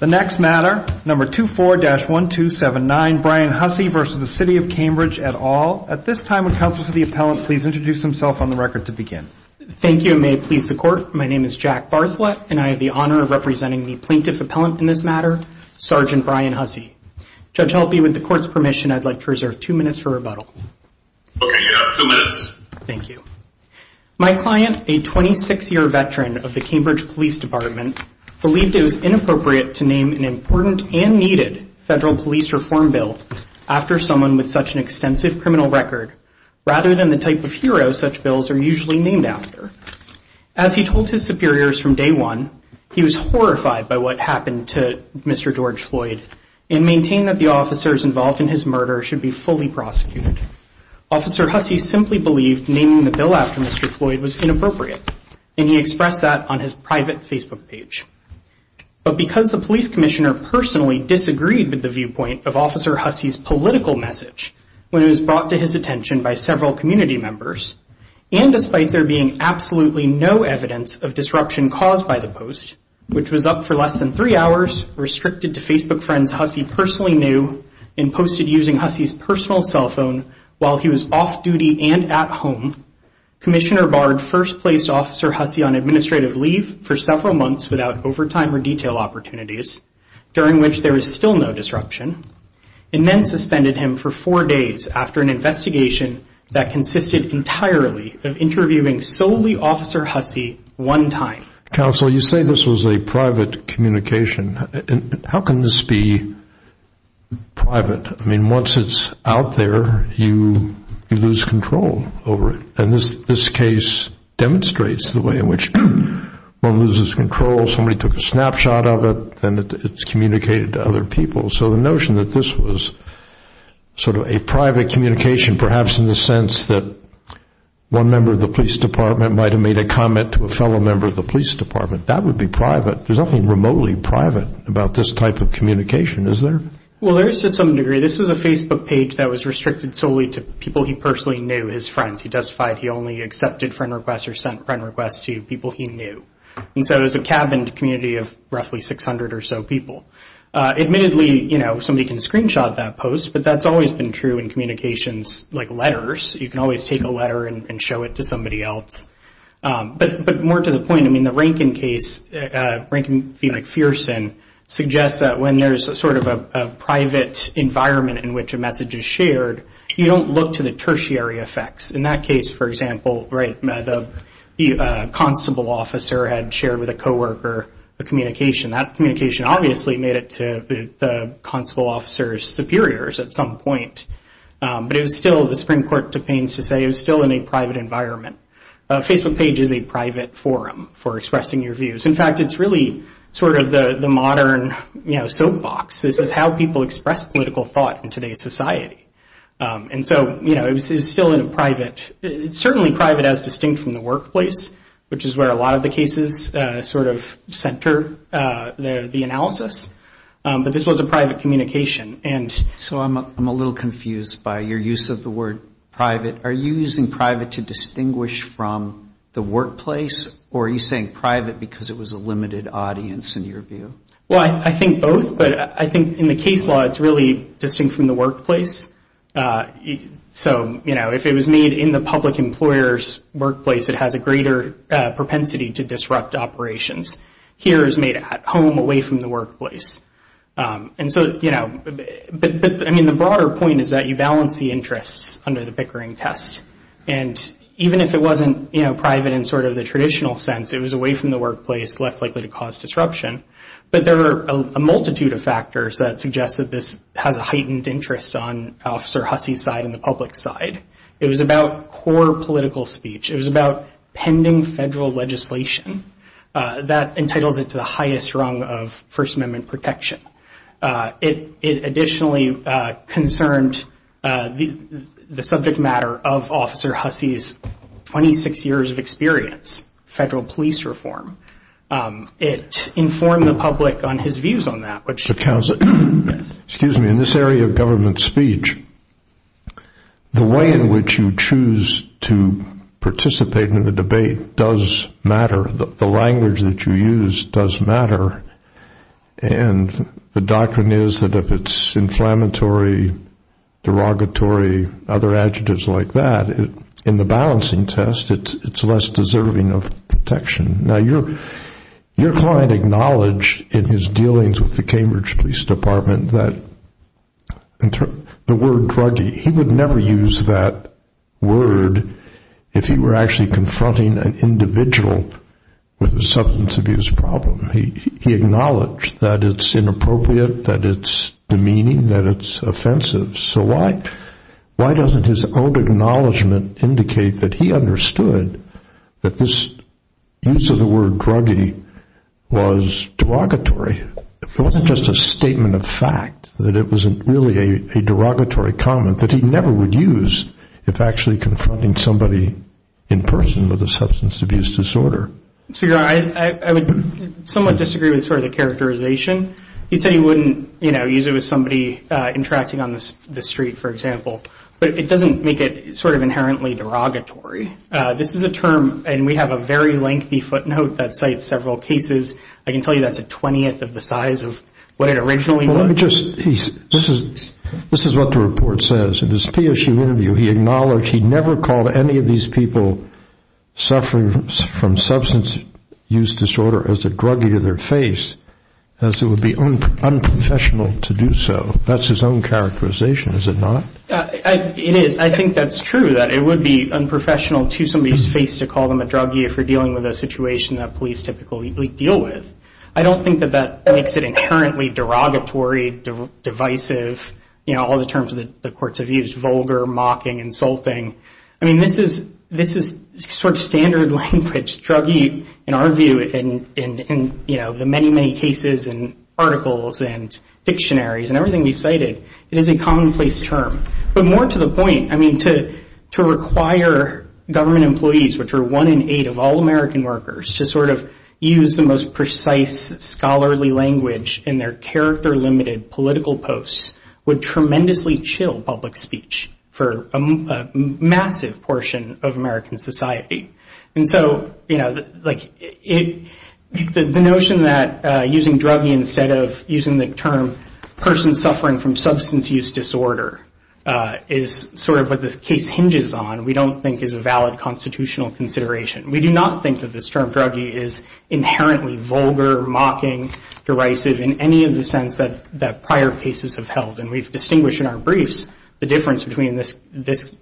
The next matter, number 24-1279, Brian Hussey v. City of Cambridge et al. At this time, would counsel to the appellant please introduce himself on the record to begin. Thank you, and may it please the court, my name is Jack Bartholet, and I have the honor of representing the plaintiff appellant in this matter, Sergeant Brian Hussey. Judge, I'll be with the court's permission, I'd like to reserve two minutes for rebuttal. Okay, you have two minutes. Thank you. My client, a 26-year veteran of the Cambridge Police Department, believed it was inappropriate to name an important and needed federal police reform bill after someone with such an extensive criminal record rather than the type of hero such bills are usually named after. As he told his superiors from day one, he was horrified by what happened to Mr. George Floyd and maintained that the officers involved in his murder should be fully prosecuted. Officer Hussey simply believed naming the bill after Mr. Floyd was inappropriate, and he expressed that on his private Facebook page. But because the police commissioner personally disagreed with the viewpoint of Officer Hussey's political message when it was brought to his attention by several community members, and despite there being absolutely no evidence of disruption caused by the post, which was up for less than three hours, restricted to Facebook friends Hussey personally knew, and posted using Hussey's personal cell phone while he was off duty and at home, Commissioner Bard first placed Officer Hussey on administrative leave for several months without overtime or detail opportunities, during which there was still no disruption, and then suspended him for four days after an investigation that consisted entirely of interviewing solely Officer Hussey one time. Counsel, you say this was a private communication. How can this be private? I mean, once it's out there, you lose control over it. And this case demonstrates the way in which one loses control. Somebody took a snapshot of it, and it's communicated to other people. So the notion that this was sort of a private communication, perhaps in the sense that one member of the police department might have made a comment to a fellow member of the police department, that would be private. There's nothing remotely private about this type of communication, is there? Well, there is to some degree. This was a Facebook page that was restricted solely to people he personally knew, his friends. He testified he only accepted friend requests or sent friend requests to people he knew. And so it was a cabined community of roughly 600 or so people. Admittedly, you know, somebody can screenshot that post, but that's always been true in communications like letters. You can always take a letter and show it to somebody else. But more to the point, I mean, the Rankin case, Rankin v. McPherson, suggests that when there's sort of a private environment in which a message is shared, you don't look to the tertiary effects. In that case, for example, right, the constable officer had shared with a coworker a communication. That communication obviously made it to the constable officer's superiors at some point. But it was still, the Supreme Court took pains to say it was still in a private environment. A Facebook page is a private forum for expressing your views. In fact, it's really sort of the modern, you know, soapbox. This is how people express political thought in today's society. And so, you know, it was still in a private, certainly private as distinct from the workplace, which is where a lot of the cases sort of center the analysis. But this was a private communication. And so I'm a little confused by your use of the word private. Are you using private to distinguish from the workplace, or are you saying private because it was a limited audience in your view? Well, I think both. But I think in the case law, it's really distinct from the workplace. So, you know, if it was made in the public employer's workplace, it has a greater propensity to disrupt operations. Here it's made at home, away from the workplace. And so, you know, but I mean the broader point is that you balance the interests under the Pickering test. And even if it wasn't, you know, private in sort of the traditional sense, it was away from the workplace, less likely to cause disruption. But there are a multitude of factors that suggest that this has a heightened interest on Officer Hussey's side and the public side. It was about core political speech. It was about pending federal legislation. That entitles it to the highest rung of First Amendment protection. It additionally concerned the subject matter of Officer Hussey's 26 years of experience, federal police reform. It informed the public on his views on that. Excuse me. In this area of government speech, the way in which you choose to participate in the debate does matter. The language that you use does matter. And the doctrine is that if it's inflammatory, derogatory, other adjectives like that, in the balancing test, it's less deserving of protection. Now your client acknowledged in his dealings with the Cambridge Police Department that the word druggie, he would never use that word if he were actually confronting an individual with a substance abuse problem. He acknowledged that it's inappropriate, that it's demeaning, that it's offensive. So why doesn't his own acknowledgement indicate that he understood that this use of the word druggie was derogatory? It wasn't just a statement of fact, that it wasn't really a derogatory comment that he never would use if actually confronting somebody in person with a substance abuse disorder. So you're right. I would somewhat disagree with sort of the characterization. He said he wouldn't, you know, use it with somebody interacting on the street, for example. But it doesn't make it sort of inherently derogatory. This is a term, and we have a very lengthy footnote that cites several cases. I can tell you that's a twentieth of the size of what it originally was. This is what the report says. In his PSU interview, he acknowledged he never called any of these people suffering from substance use disorder as a druggie to their face, as it would be unprofessional to do so. That's his own characterization, is it not? It is. I think that's true, that it would be unprofessional to somebody's face to call them a druggie if you're dealing with a situation that police typically deal with. I don't think that that makes it inherently derogatory, divisive, you know, all the terms that the courts have used, vulgar, mocking, insulting. I mean, this is sort of standard language. Druggie, in our view, in, you know, the many, many cases and articles and dictionaries and everything we've cited, it is a commonplace term. But more to the point, I mean, to require government employees, which are one in eight of all American workers, to sort of use the most precise scholarly language in their character-limited political posts would tremendously chill public speech for a massive portion of American society. And so, you know, like, the notion that using druggie instead of using the term person suffering from substance use disorder is sort of what this case hinges on, we don't think is a valid constitutional consideration. We do not think that this term, druggie, is inherently vulgar, mocking, derisive, in any of the sense that prior cases have held. And we've distinguished in our briefs the difference between this,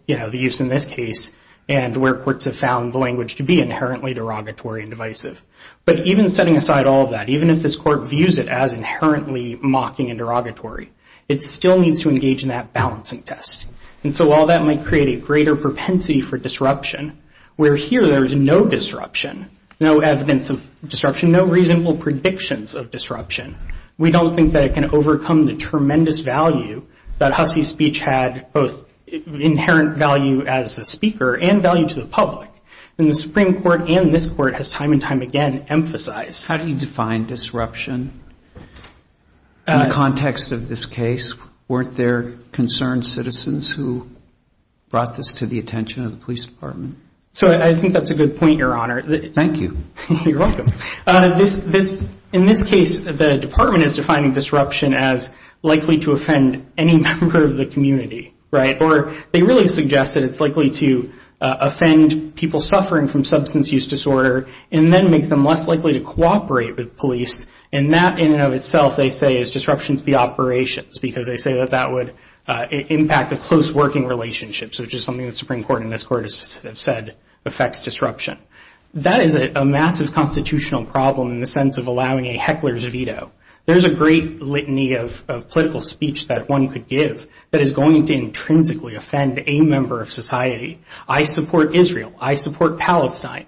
you know, the use in this case, and where courts have found the language to be inherently derogatory and divisive. But even setting aside all of that, even if this court views it as inherently mocking and derogatory, it still needs to engage in that balancing test. And so while that might create a greater propensity for disruption, where here there is no disruption, no evidence of disruption, no reasonable predictions of disruption, we don't think that it can overcome the tremendous value that Hussie speech had, both inherent value as the speaker and value to the public. And the Supreme Court and this court has time and time again emphasized. How do you define disruption in the context of this case? Weren't there concerned citizens who brought this to the attention of the police department? So I think that's a good point, Your Honor. Thank you. You're welcome. In this case, the department is defining disruption as likely to offend any member of the community, right? Or they really suggest that it's likely to offend people suffering from substance use disorder and then make them less likely to cooperate with police. And that in and of itself, they say, is disruption to the operations, because they say that that would impact the close working relationships, which is something the Supreme Court and this court have said affects disruption. That is a massive constitutional problem in the sense of allowing a heckler's veto. There's a great litany of political speech that one could give that is going to intrinsically offend a member of society. I support Israel. I support Palestine.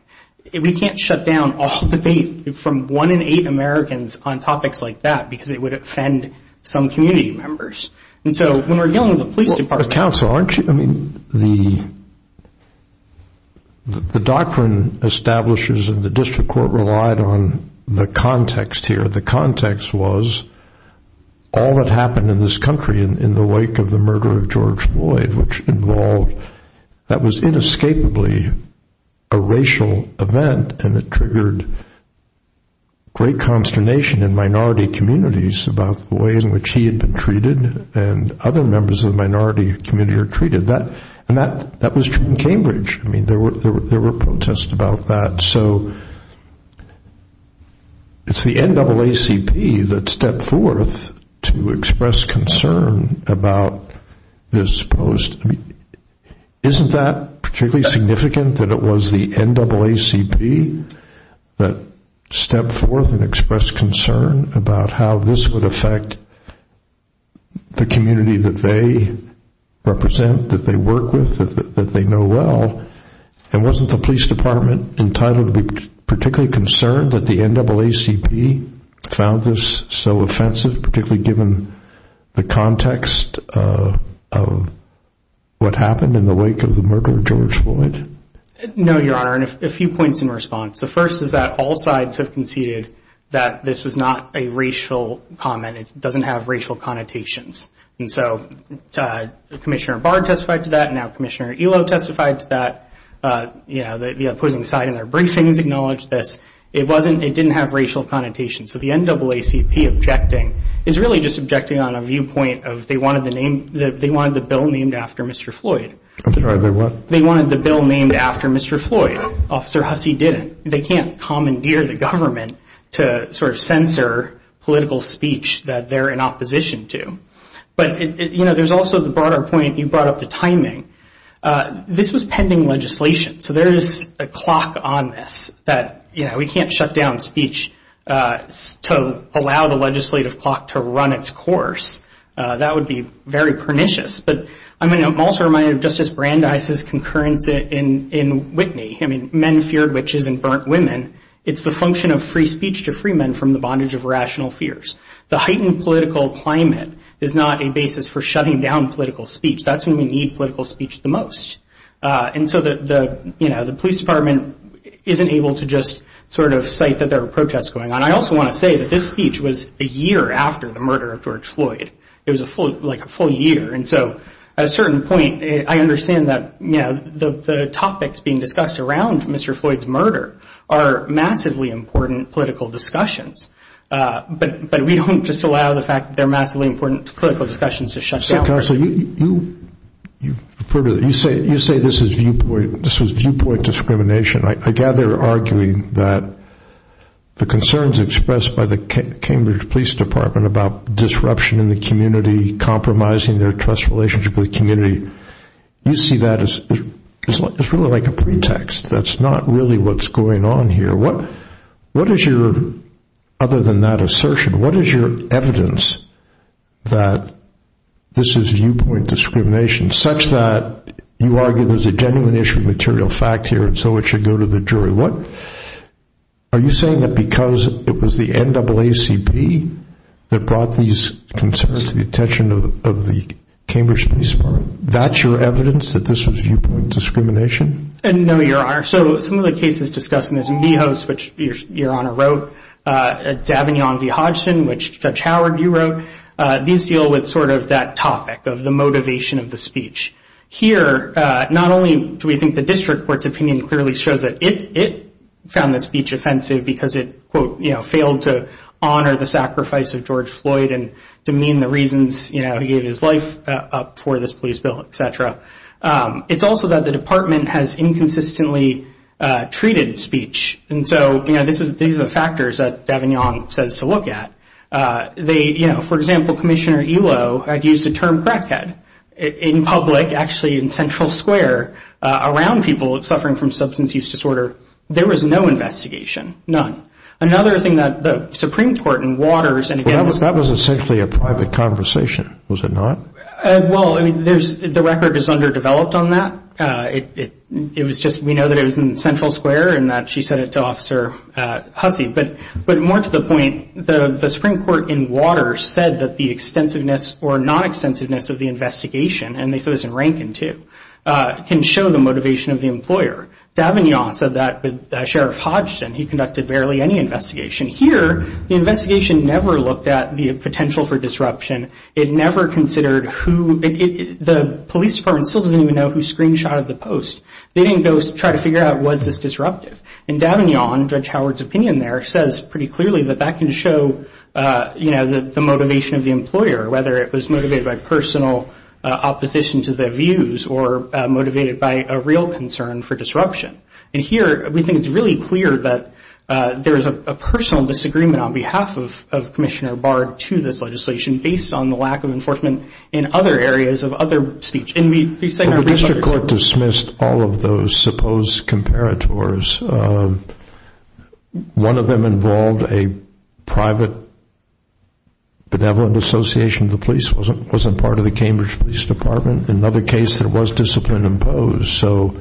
We can't shut down all debate from one in eight Americans on topics like that because it would offend some community members. And so when we're dealing with the police department. But, Counsel, aren't you, I mean, the doctrine establishes and the district court relied on the context here. The context was all that happened in this country in the wake of the murder of George Floyd, which involved, that was inescapably a racial event, and it triggered great consternation in minority communities about the way in which he had been treated and other members of the minority community are treated. And that was true in Cambridge. I mean, there were protests about that. So it's the NAACP that stepped forth to express concern about this post. Isn't that particularly significant that it was the NAACP that stepped forth and expressed concern about how this would affect the community that they represent, that they work with, that they know well? And wasn't the police department entitled to be particularly concerned that the NAACP found this so offensive, particularly given the context of what happened in the wake of the murder of George Floyd? No, Your Honor, and a few points in response. The first is that all sides have conceded that this was not a racial comment. It doesn't have racial connotations. And so Commissioner Bard testified to that, and now Commissioner Elo testified to that. The opposing side in their briefings acknowledged this. It didn't have racial connotations. So the NAACP objecting is really just objecting on a viewpoint of they wanted the bill named after Mr. Floyd. They wanted the bill named after Mr. Floyd. Officer Hussey didn't. They can't commandeer the government to sort of censor political speech that they're in opposition to. But, you know, there's also the broader point you brought up, the timing. This was pending legislation. So there is a clock on this that, you know, we can't shut down speech to allow the legislative clock to run its course. That would be very pernicious. But I'm also reminded of Justice Brandeis's concurrence in Whitney. I mean, men feared witches and burnt women. It's the function of free speech to free men from the bondage of rational fears. The heightened political climate is not a basis for shutting down political speech. That's when we need political speech the most. And so, you know, the police department isn't able to just sort of cite that there were protests going on. I also want to say that this speech was a year after the murder of George Floyd. It was like a full year. And so at a certain point, I understand that, you know, the topics being discussed around Mr. Floyd's murder are massively important political discussions. But we don't just allow the fact that they're massively important political discussions to shut down. So, Counsel, you say this is viewpoint discrimination. I gather you're arguing that the concerns expressed by the Cambridge Police Department about disruption in the community, compromising their trust relationship with the community, you see that as really like a pretext. That's not really what's going on here. What is your, other than that assertion, what is your evidence that this is viewpoint discrimination, such that you argue there's a genuine issue of material fact here, and so it should go to the jury? Are you saying that because it was the NAACP that brought these concerns to the attention of the Cambridge Police Department, that's your evidence that this was viewpoint discrimination? No, Your Honor. So some of the cases discussed in this, Michos, which Your Honor wrote, Dabney v. Hodgson, which Judge Howard, you wrote, these deal with sort of that topic of the motivation of the speech. Here, not only do we think the district court's opinion clearly shows that it found the speech offensive because it, quote, you know, failed to honor the sacrifice of George Floyd and demean the reasons, you know, he gave his life up for this police bill, et cetera. It's also that the department has inconsistently treated speech. And so, you know, these are the factors that Dabney says to look at. They, you know, for example, Commissioner Elo had used the term crackhead in public, actually in Central Square around people suffering from substance use disorder. There was no investigation, none. Another thing that the Supreme Court in Waters and against- Well, that was essentially a private conversation, was it not? Well, I mean, there's the record is underdeveloped on that. It was just we know that it was in Central Square and that she said it to Officer Hussey. But more to the point, the Supreme Court in Waters said that the extensiveness or non-extensiveness of the investigation, and they said this in Rankin too, can show the motivation of the employer. Dabney said that with Sheriff Hodgson. He conducted barely any investigation. Here, the investigation never looked at the potential for disruption. It never considered who-the police department still doesn't even know who screenshotted the post. They didn't go try to figure out was this disruptive. And Dabney on Judge Howard's opinion there says pretty clearly that that can show, you know, the motivation of the employer, whether it was motivated by personal opposition to their views or motivated by a real concern for disruption. And here, we think it's really clear that there is a personal disagreement on behalf of Commissioner Bard to this legislation based on the lack of enforcement in other areas of other speech. The district court dismissed all of those supposed comparators. One of them involved a private benevolent association of the police. It wasn't part of the Cambridge Police Department. In another case, there was discipline imposed. So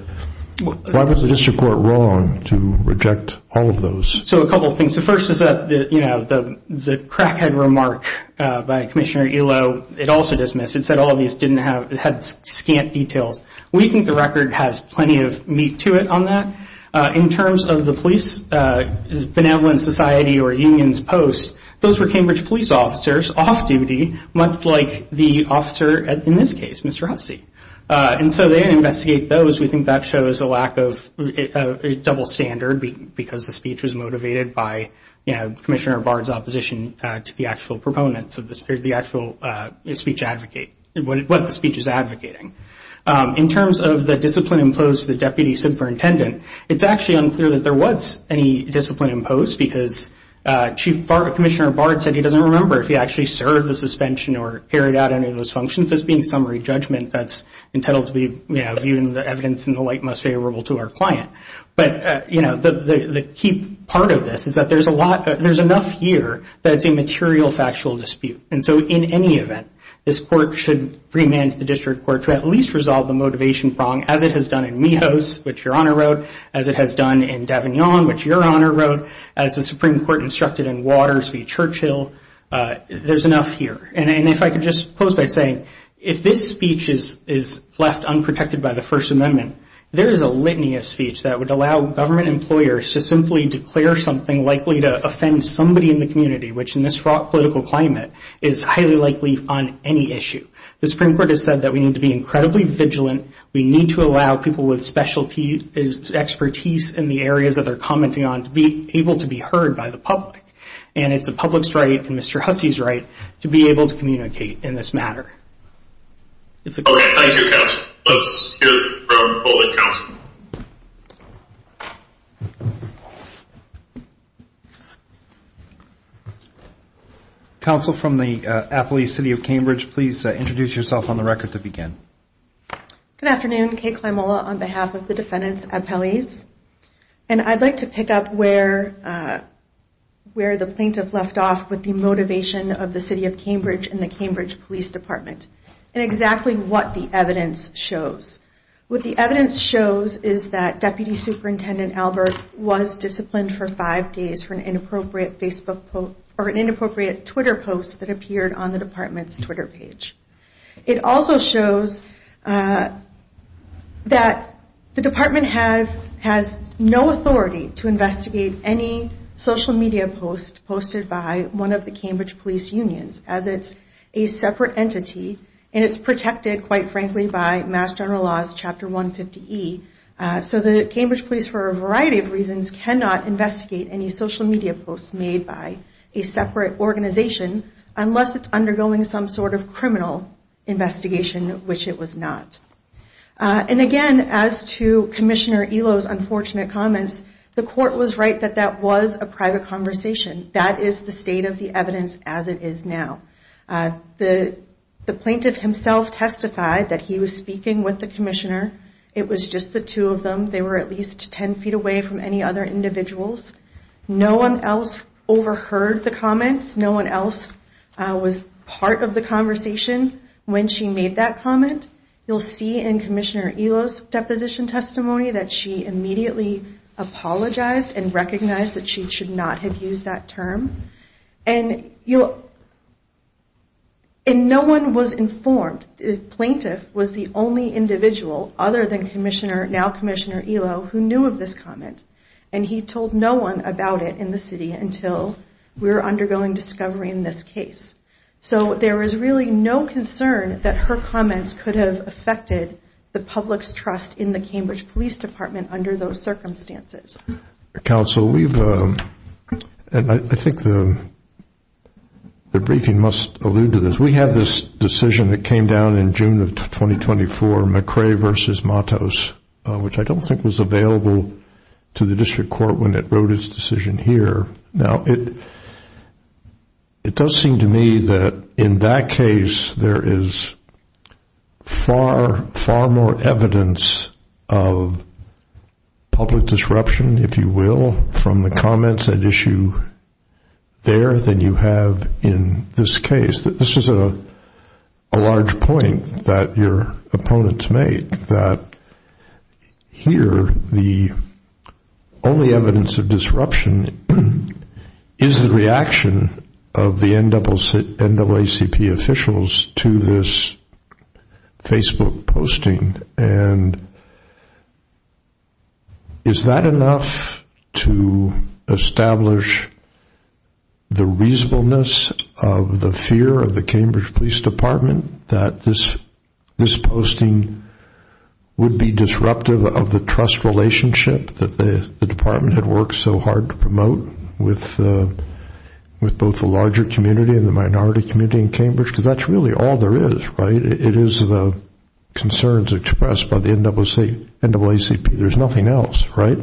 why was the district court wrong to reject all of those? So a couple of things. The first is that, you know, the crackhead remark by Commissioner Elo, it also dismissed. It said all of these had scant details. We think the record has plenty of meat to it on that. In terms of the police benevolent society or unions post, those were Cambridge police officers off duty, much like the officer in this case, Mr. Hussey. And so they didn't investigate those. We think that shows a lack of double standard because the speech was motivated by, you know, what the speech is advocating. In terms of the discipline imposed to the deputy superintendent, it's actually unclear that there was any discipline imposed because Chief Commissioner Bard said he doesn't remember if he actually served the suspension or carried out any of those functions, this being summary judgment that's intended to be, you know, viewing the evidence in the light most favorable to our client. But, you know, the key part of this is that there's a lot, there's enough here that it's a material factual dispute. And so in any event, this court should remand the district court to at least resolve the motivation prong, as it has done in Mijos, which Your Honor wrote, as it has done in Davignon, which Your Honor wrote, as the Supreme Court instructed in Waters v. Churchill. There's enough here. And if I could just close by saying, if this speech is left unprotected by the First Amendment, there is a litany of speech that would allow government employers to simply declare something likely to offend somebody in the community, which in this fraught political climate is highly likely on any issue. The Supreme Court has said that we need to be incredibly vigilant. We need to allow people with expertise in the areas that they're commenting on to be able to be heard by the public. And it's the public's right and Mr. Hussey's right to be able to communicate in this matter. Okay. Thank you, counsel. Let's hear from the public counsel. Counsel from the Appellee's City of Cambridge, please introduce yourself on the record to begin. Good afternoon. Kay Clamola on behalf of the defendant's appellees. And I'd like to pick up where the plaintiff left off with the motivation of the City of Cambridge and the Cambridge Police Department and exactly what the evidence shows. What the evidence shows is that Deputy Superintendent Albert was disciplined for five days for an inappropriate Facebook post or an inappropriate Twitter post that appeared on the department's Twitter page. It also shows that the department has no authority to investigate any social media post posted by one of the Cambridge Police Unions as it's a separate entity and it's protected, quite frankly, by Mass General Law's Chapter 150E. So the Cambridge Police, for a variety of reasons, cannot investigate any social media posts made by a separate organization unless it's undergoing some sort of criminal investigation, which it was not. And again, as to Commissioner Elo's unfortunate comments, the court was right that that was a private conversation. That is the state of the evidence as it is now. The plaintiff himself testified that he was speaking with the commissioner. It was just the two of them. They were at least 10 feet away from any other individuals. No one else overheard the comments. No one else was part of the conversation when she made that comment. You'll see in Commissioner Elo's deposition testimony that she immediately apologized and recognized that she should not have used that term. And no one was informed. The plaintiff was the only individual other than now Commissioner Elo who knew of this comment. And he told no one about it in the city until we were undergoing discovery in this case. So there is really no concern that her comments could have affected the public's trust in the Cambridge Police Department under those circumstances. Counsel, I think the briefing must allude to this. We have this decision that came down in June of 2024, McCrae v. Matos, which I don't think was available to the district court when it wrote its decision here. Now, it does seem to me that in that case there is far, far more evidence of public disruption, if you will, from the comments at issue there than you have in this case. This is a large point that your opponents make, that here the only evidence of disruption is the reaction of the NAACP officials to this Facebook posting. And is that enough to establish the reasonableness of the fear of the Cambridge Police Department that this posting would be disruptive of the trust relationship that the department had worked so hard to promote with both the larger community and the minority community in Cambridge? Because that's really all there is, right? It is the concerns expressed by the NAACP. There's nothing else, right?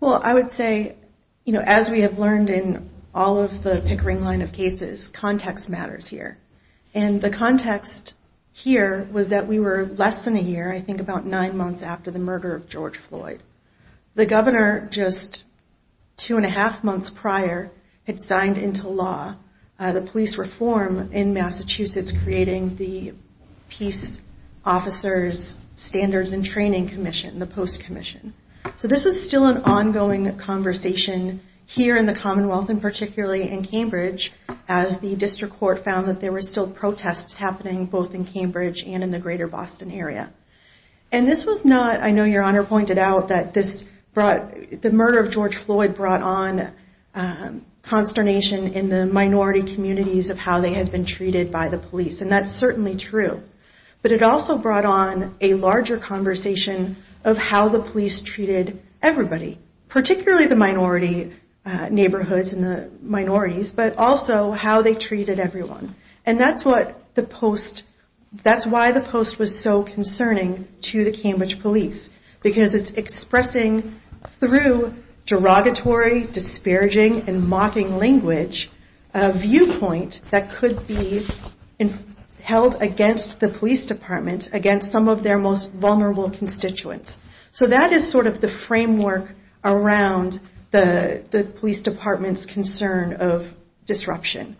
Well, I would say, you know, as we have learned in all of the Pickering line of cases, context matters here. And the context here was that we were less than a year, I think, about nine months after the murder of George Floyd. The governor, just two and a half months prior, had signed into law the police reform in Massachusetts, creating the Peace Officers Standards and Training Commission, the Post Commission. So this was still an ongoing conversation here in the Commonwealth, and particularly in Cambridge, as the district court found that there were still protests happening both in Cambridge and in the greater Boston area. And this was not, I know Your Honor pointed out, that the murder of George Floyd brought on consternation in the minority communities of how they had been treated by the police, and that's certainly true. But it also brought on a larger conversation of how the police treated everybody, particularly the minority neighborhoods and the minorities, but also how they treated everyone. And that's what the Post, that's why the Post was so concerning to the Cambridge police, because it's expressing through derogatory, disparaging, and mocking language, a viewpoint that could be held against the police department, against some of their most vulnerable constituents. So that is sort of the framework around the police department's concern of disruption.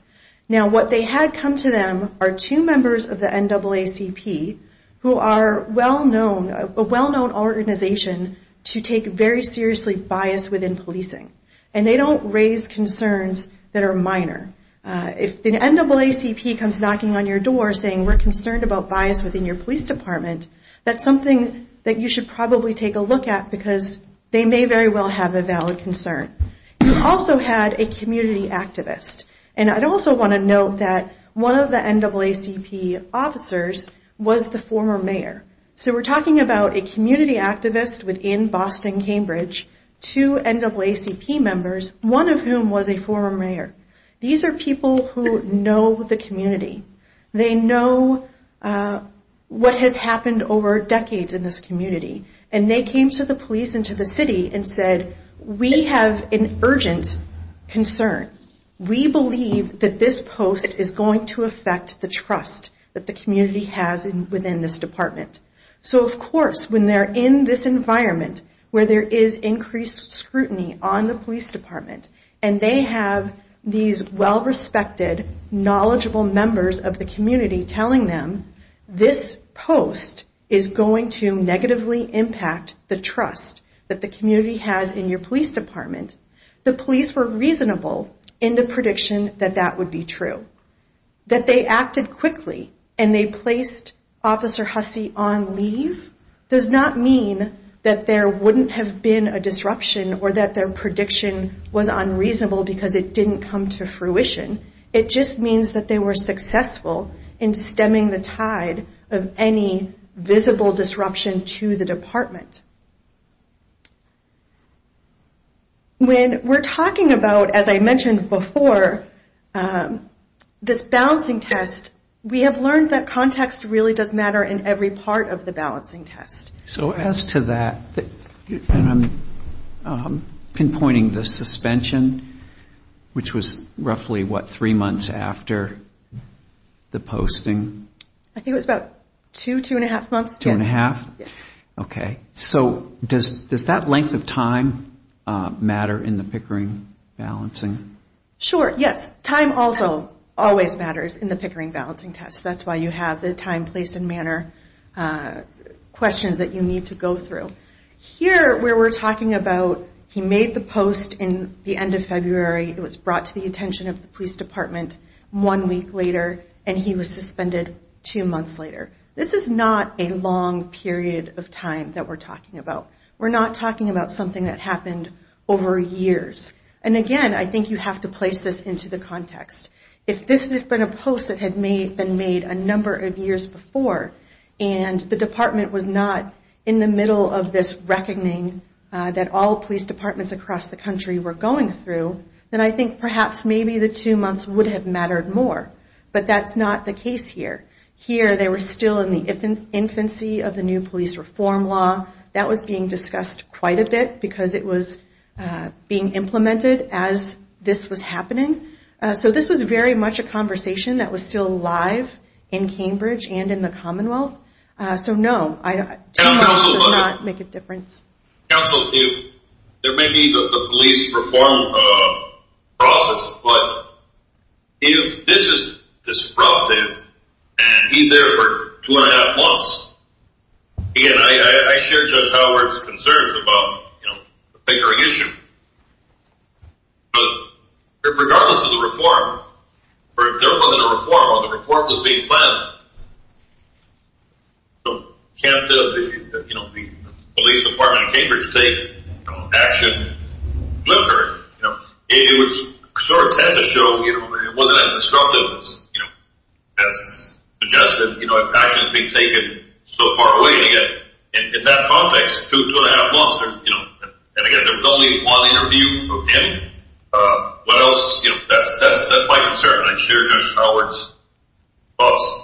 Now what they had come to them are two members of the NAACP, who are a well-known organization to take very seriously bias within policing, and they don't raise concerns that are minor. If the NAACP comes knocking on your door saying we're concerned about bias within your police department, that's something that you should probably take a look at, because they may very well have a valid concern. You also had a community activist, and I'd also want to note that one of the NAACP officers was the former mayor. So we're talking about a community activist within Boston-Cambridge, two NAACP members, one of whom was a former mayor. These are people who know the community. They know what has happened over decades in this community, and they came to the police and to the city and said, we have an urgent concern. We believe that this post is going to affect the trust that the community has within this department. So of course, when they're in this environment, where there is increased scrutiny on the police department, and they have these well-respected, knowledgeable members of the community telling them, this post is going to negatively impact the trust that the community has in your police department, the police were reasonable in the prediction that that would be true. That they acted quickly and they placed Officer Hussey on leave does not mean that there wouldn't have been a disruption or that their prediction was unreasonable because it didn't come to fruition. It just means that they were successful in stemming the tide of any visible disruption to the department. When we're talking about, as I mentioned before, this balancing test, we have learned that context really does matter in every part of the balancing test. So as to that, I'm pinpointing the suspension, which was roughly what, three months after the posting? I think it was about two, two and a half months. Two and a half? Okay. So does that length of time matter in the Pickering balancing? Sure, yes. Time also always matters in the Pickering balancing test. That's why you have the time, place, and manner questions that you need to go through. Here, where we're talking about, he made the post in the end of February, it was brought to the attention of the police department one week later, and he was suspended two months later. This is not a long period of time that we're talking about. We're not talking about something that happened over years. And again, I think you have to place this into the context. If this had been a post that had been made a number of years before, and the department was not in the middle of this reckoning that all police departments across the country were going through, then I think perhaps maybe the two months would have mattered more. But that's not the case here. Here, they were still in the infancy of the new police reform law. That was being discussed quite a bit because it was being implemented as this was happening. So this was very much a conversation that was still live in Cambridge and in the Commonwealth. So no, two months does not make a difference. Counsel, there may be the police reform process, but if this is disruptive and he's there for two and a half months, again, I share Judge Howard's concerns about the Pickering issue. But regardless of the reform, or if there wasn't a reform or the reform was being planned, can't the police department in Cambridge take action with Pickering? It would sort of tend to show it wasn't as disruptive as suggested, and actions being taken so far away to get, in that context, two and a half months. And again, there was only one interview for him. What else? That's my concern. I share Judge Howard's thoughts.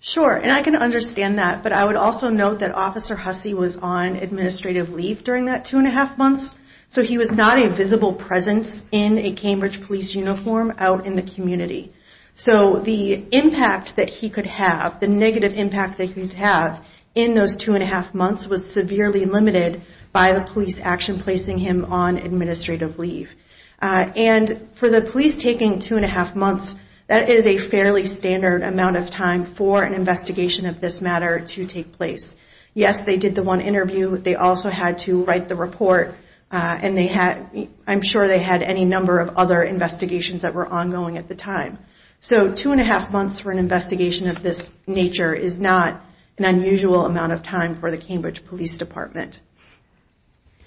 Sure, and I can understand that. But I would also note that Officer Hussey was on administrative leave during that two and a half months. So he was not a visible presence in a Cambridge police uniform out in the community. So the impact that he could have, the negative impact that he could have in those two and a half months was severely limited by the police action placing him on administrative leave. And for the police taking two and a half months, that is a fairly standard amount of time for an investigation of this matter to take place. Yes, they did the one interview. They also had to write the report. And I'm sure they had any number of other investigations that were ongoing at the time. So two and a half months for an investigation of this nature is not an unusual amount of time for the Cambridge Police Department.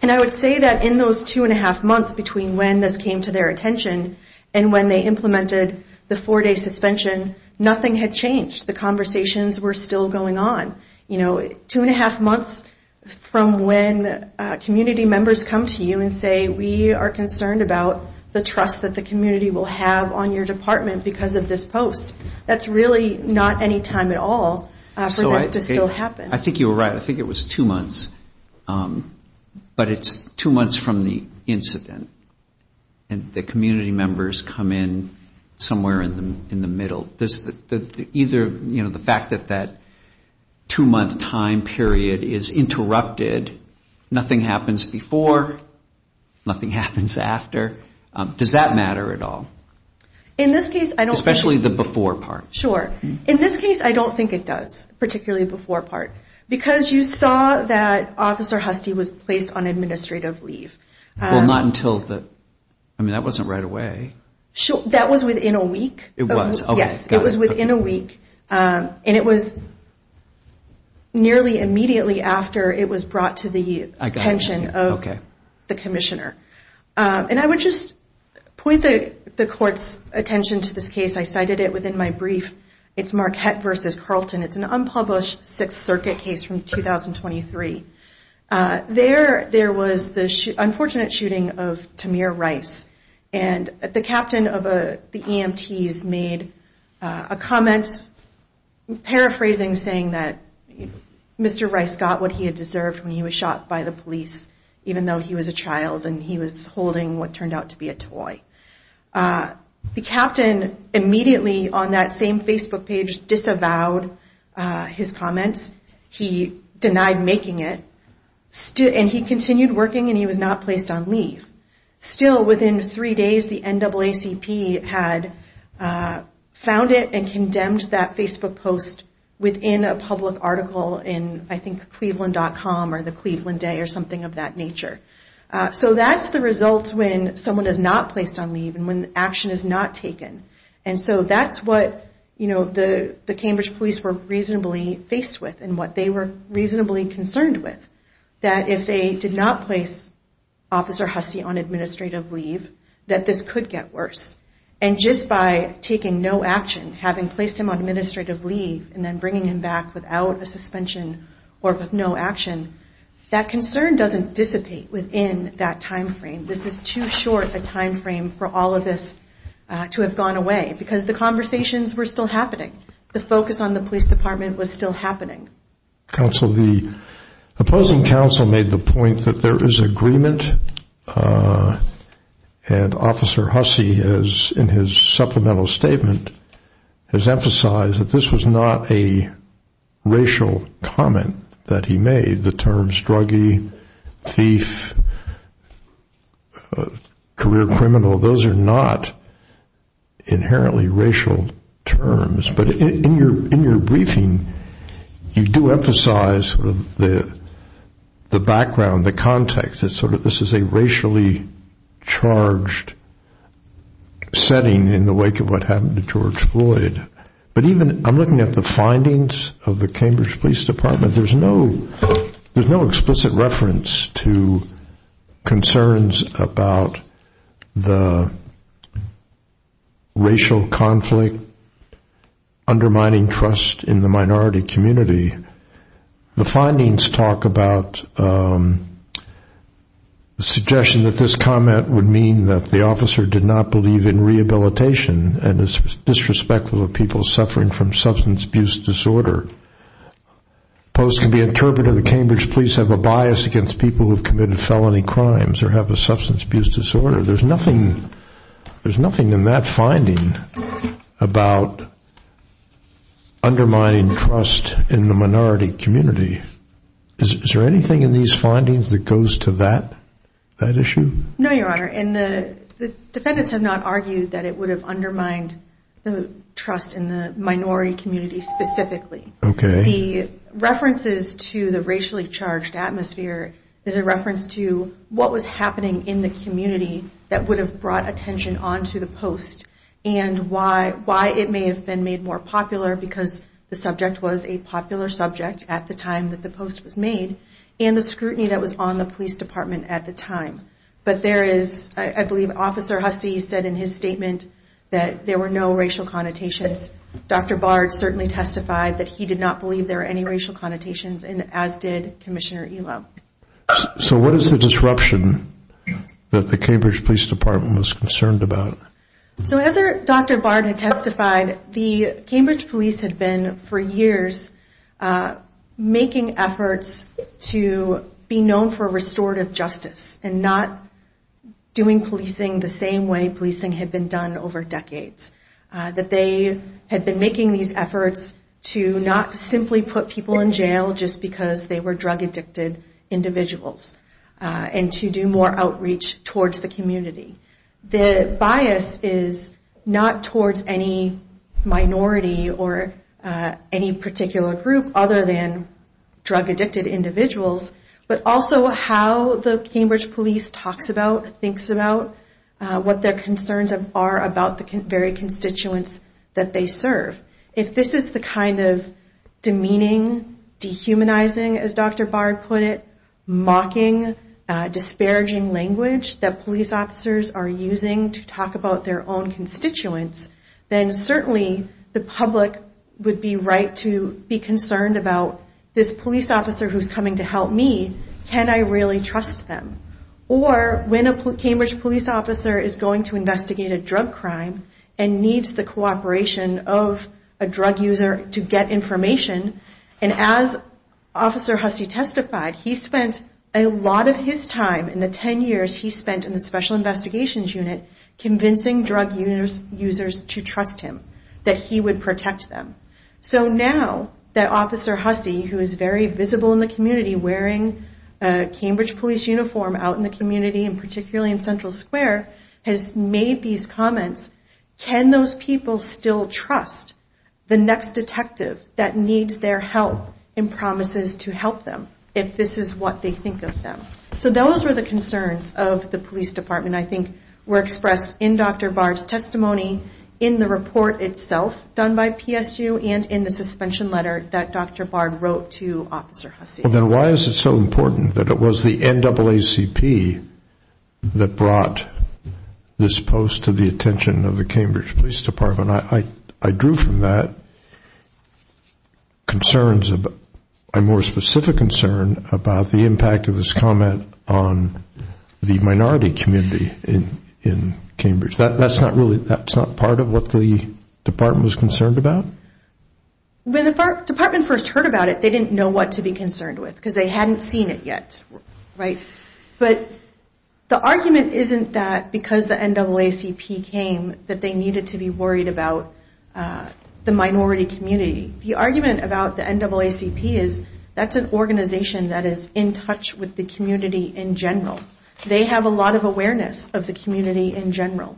And I would say that in those two and a half months between when this came to their attention and when they implemented the four-day suspension, nothing had changed. The conversations were still going on. Two and a half months from when community members come to you and say, we are concerned about the trust that the community will have on your department because of this post. That's really not any time at all for this to still happen. I think you were right. I think it was two months. But it's two months from the incident. And the community members come in somewhere in the middle. Either the fact that that two-month time period is interrupted, nothing happens before, nothing happens after. Does that matter at all? Especially the before part. Sure. In this case, I don't think it does. Particularly the before part. Because you saw that Officer Hustie was placed on administrative leave. Well, not until the... I mean, that wasn't right away. That was within a week. And it was nearly immediately after it was brought to the attention of the Commissioner. And I would just point the Court's attention to this case. I cited it within my brief. It's Marquette v. Carlton. It's an unpublished Sixth Circuit case from 2023. There was the unfortunate shooting of Tamir Rice. And the captain of the EMTs made a comment, paraphrasing, saying that Mr. Rice got what he had deserved when he was shot by the police, even though he was a child and he was holding what turned out to be a toy. The captain immediately, on that same Facebook page, disavowed his comments. He denied making it. And he continued working and he was not placed on leave. Still, within three days, the NAACP had found it and condemned that Facebook post within a public article in, I think, Cleveland.com or the Cleveland Day or something of that nature. So that's the result when someone is not placed on leave and when action is not taken. And so that's what the Cambridge police were reasonably faced with and what they were reasonably concerned with. That if they did not place Officer Husty on administrative leave, that this could get worse. And just by taking no action, having placed him on administrative leave and then bringing him back without a suspension or with no action, that concern doesn't dissipate within that time frame. This is too short a time frame for all of this to have gone away because the conversations were still happening. The focus on the police department was still happening. Counsel, the opposing counsel made the point that there is agreement and Officer Husty, in his supplemental statement, has emphasized that this was not a racial comment that he made. The terms druggie, thief, career criminal, those are not inherently racial terms. But in your briefing, you do emphasize the background, the context. This is a racially charged setting in the wake of what happened to George Floyd. I'm looking at the findings of the Cambridge Police Department. There's no explicit reference to concerns about the racial conflict undermining trust in the minority community. The findings talk about the suggestion that this comment would mean that the officer did not believe in rehabilitation and is disrespectful of people suffering from substance abuse disorder. Post can be interpreted that Cambridge police have a bias against people who have committed felony crimes or have a substance abuse disorder. There's nothing in that finding about undermining trust in the minority community. Is there anything in these findings that goes to that issue? No, Your Honor. The defendants have not argued that it would have undermined the trust in the minority community specifically. The references to the racially charged atmosphere is a reference to what was happening in the community that would have brought attention onto the Post and why it may have been made more popular because the subject was a popular subject at the time that the Post was made and the scrutiny that was on the police department at the time. But there is, I believe Officer Hustie said in his statement that there were no racial connotations. Dr. Bard certainly testified that he did not believe there were any racial connotations and as did Commissioner Elo. So what is the disruption that the Cambridge Police Department was concerned about? So as Dr. Bard had testified, the Cambridge Police had been for years making efforts to be known for restorative justice and not doing policing the same way policing had been done over decades. That they had been making these efforts to not simply put people in jail just because they were drug addicted individuals and to do more outreach towards the community. The bias is not towards any minority or any particular group other than drug addicted individuals, but also how the Cambridge Police talks about, thinks about, what their concerns are about the very constituents that they serve. If this is the kind of demeaning, dehumanizing as Dr. Bard put it, mocking, disparaging language that police officers are using to talk about their own constituents, then certainly the public would be right to be concerned about this police officer who's coming to help me, can I really trust them? Or when a Cambridge police officer is going to investigate a drug crime and needs the cooperation of a drug user to get information and as Officer Hussey testified, he spent a lot of his time in the 10 years he spent in the Special Investigations Unit convincing drug users to trust him, that he would protect them. So now that Officer Hussey, who is very visible in the community wearing a Cambridge Police uniform out in the community and particularly in Central Square, has made these comments, can those people still trust the next detective that needs their help and promises to help them if this is what they think of them? So those were the concerns of the police department, I think, were expressed in Dr. Bard's testimony, in the report itself done by PSU and in the suspension letter that Dr. Bard wrote to Officer Hussey. Then why is it so important that it was the NAACP that brought this post to the attention of the Cambridge Police Department? I drew from that concerns, a more specific concern about the impact of his comment on the minority community in Cambridge. That's not really, that's not part of what the department was concerned about? When the department first heard about it, they didn't know what to be concerned with because they hadn't seen it yet. But the argument isn't that because the NAACP came that they needed to be worried about the minority community. The argument about the NAACP is that's an organization that is in touch with the community in general. They have a lot of awareness of the community in general.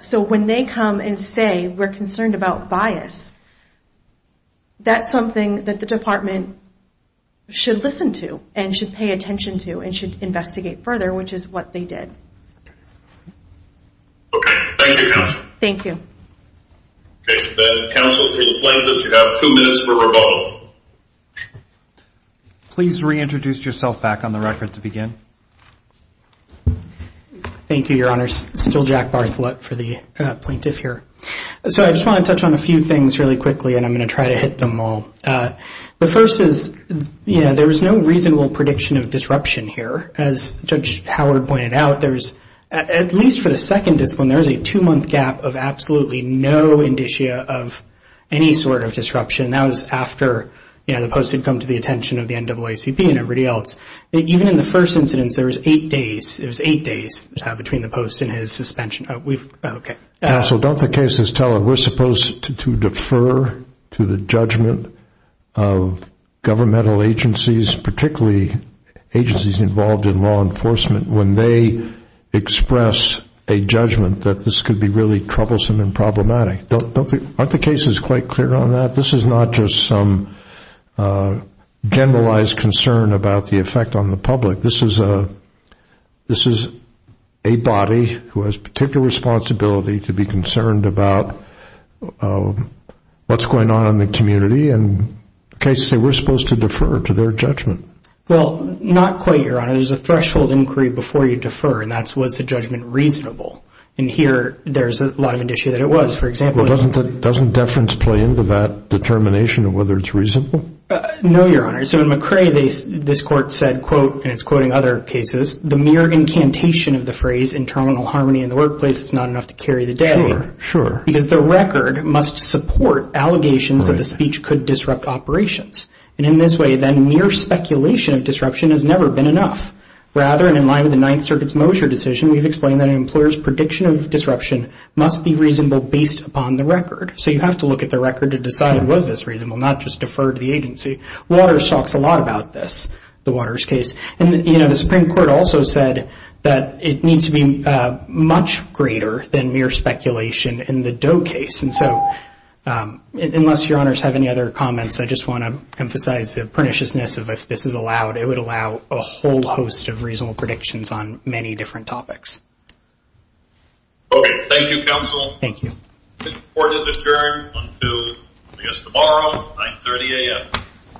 So when they come and say we're concerned about bias, that's something that the department should listen to and should pay attention to and should investigate further, which is what they did. Okay. Thank you, counsel. Thank you. Okay. The counsel to the plaintiffs, you have two minutes for rebuttal. Please reintroduce yourself back on the record to begin. Thank you, Your Honor. Still Jack Bartholet for the plaintiff here. So I just want to touch on a few things really quickly, and I'm going to try to hit them all. The first is, you know, there was no reasonable prediction of disruption here. As Judge Howard pointed out, there was, at least for the second discipline, there was a two-month gap of absolutely no indicia of any sort of disruption. That was after, you know, the post had come to the attention of the NAACP and everybody else. Even in the first incidence, there was eight days. It was eight days between the post and his suspension. Counsel, don't the cases tell us we're supposed to defer to the judgment of governmental agencies, particularly agencies involved in law enforcement, when they express a judgment that this could be really troublesome and problematic? Aren't the cases quite clear on that? This is not just some generalized concern about the effect on the public. This is a body who has particular responsibility to be concerned about what's going on in the community, and the cases say we're supposed to defer to their judgment. Well, not quite, Your Honor. There's a threshold inquiry before you defer, and that's, was the judgment reasonable? And here, there's a lot of indicia that it was. Well, doesn't deference play into that determination of whether it's reasonable? No, Your Honor. So in McCrae, this Court said, quote, and it's quoting other cases, the mere incantation of the phrase internal harmony in the workplace is not enough to carry the day. Sure, sure. Because the record must support allegations that the speech could disrupt operations. And in this way, then, mere speculation of disruption has never been enough. Rather, and in line with the Ninth Circuit's Mosher decision, we've explained that an employer's prediction of disruption must be reasonable based upon the record. So you have to look at the record to decide was this reasonable, not just defer to the agency. Waters talks a lot about this, the Waters case. And, you know, the Supreme Court also said that it needs to be much greater than mere speculation in the Doe case. And so unless Your Honors have any other comments, I just want to emphasize the perniciousness of if this is allowed, it would allow a whole host of reasonable predictions on many different topics. Okay. Thank you, Counsel. Thank you. The Court is adjourned until, I guess, tomorrow, 930 a.m.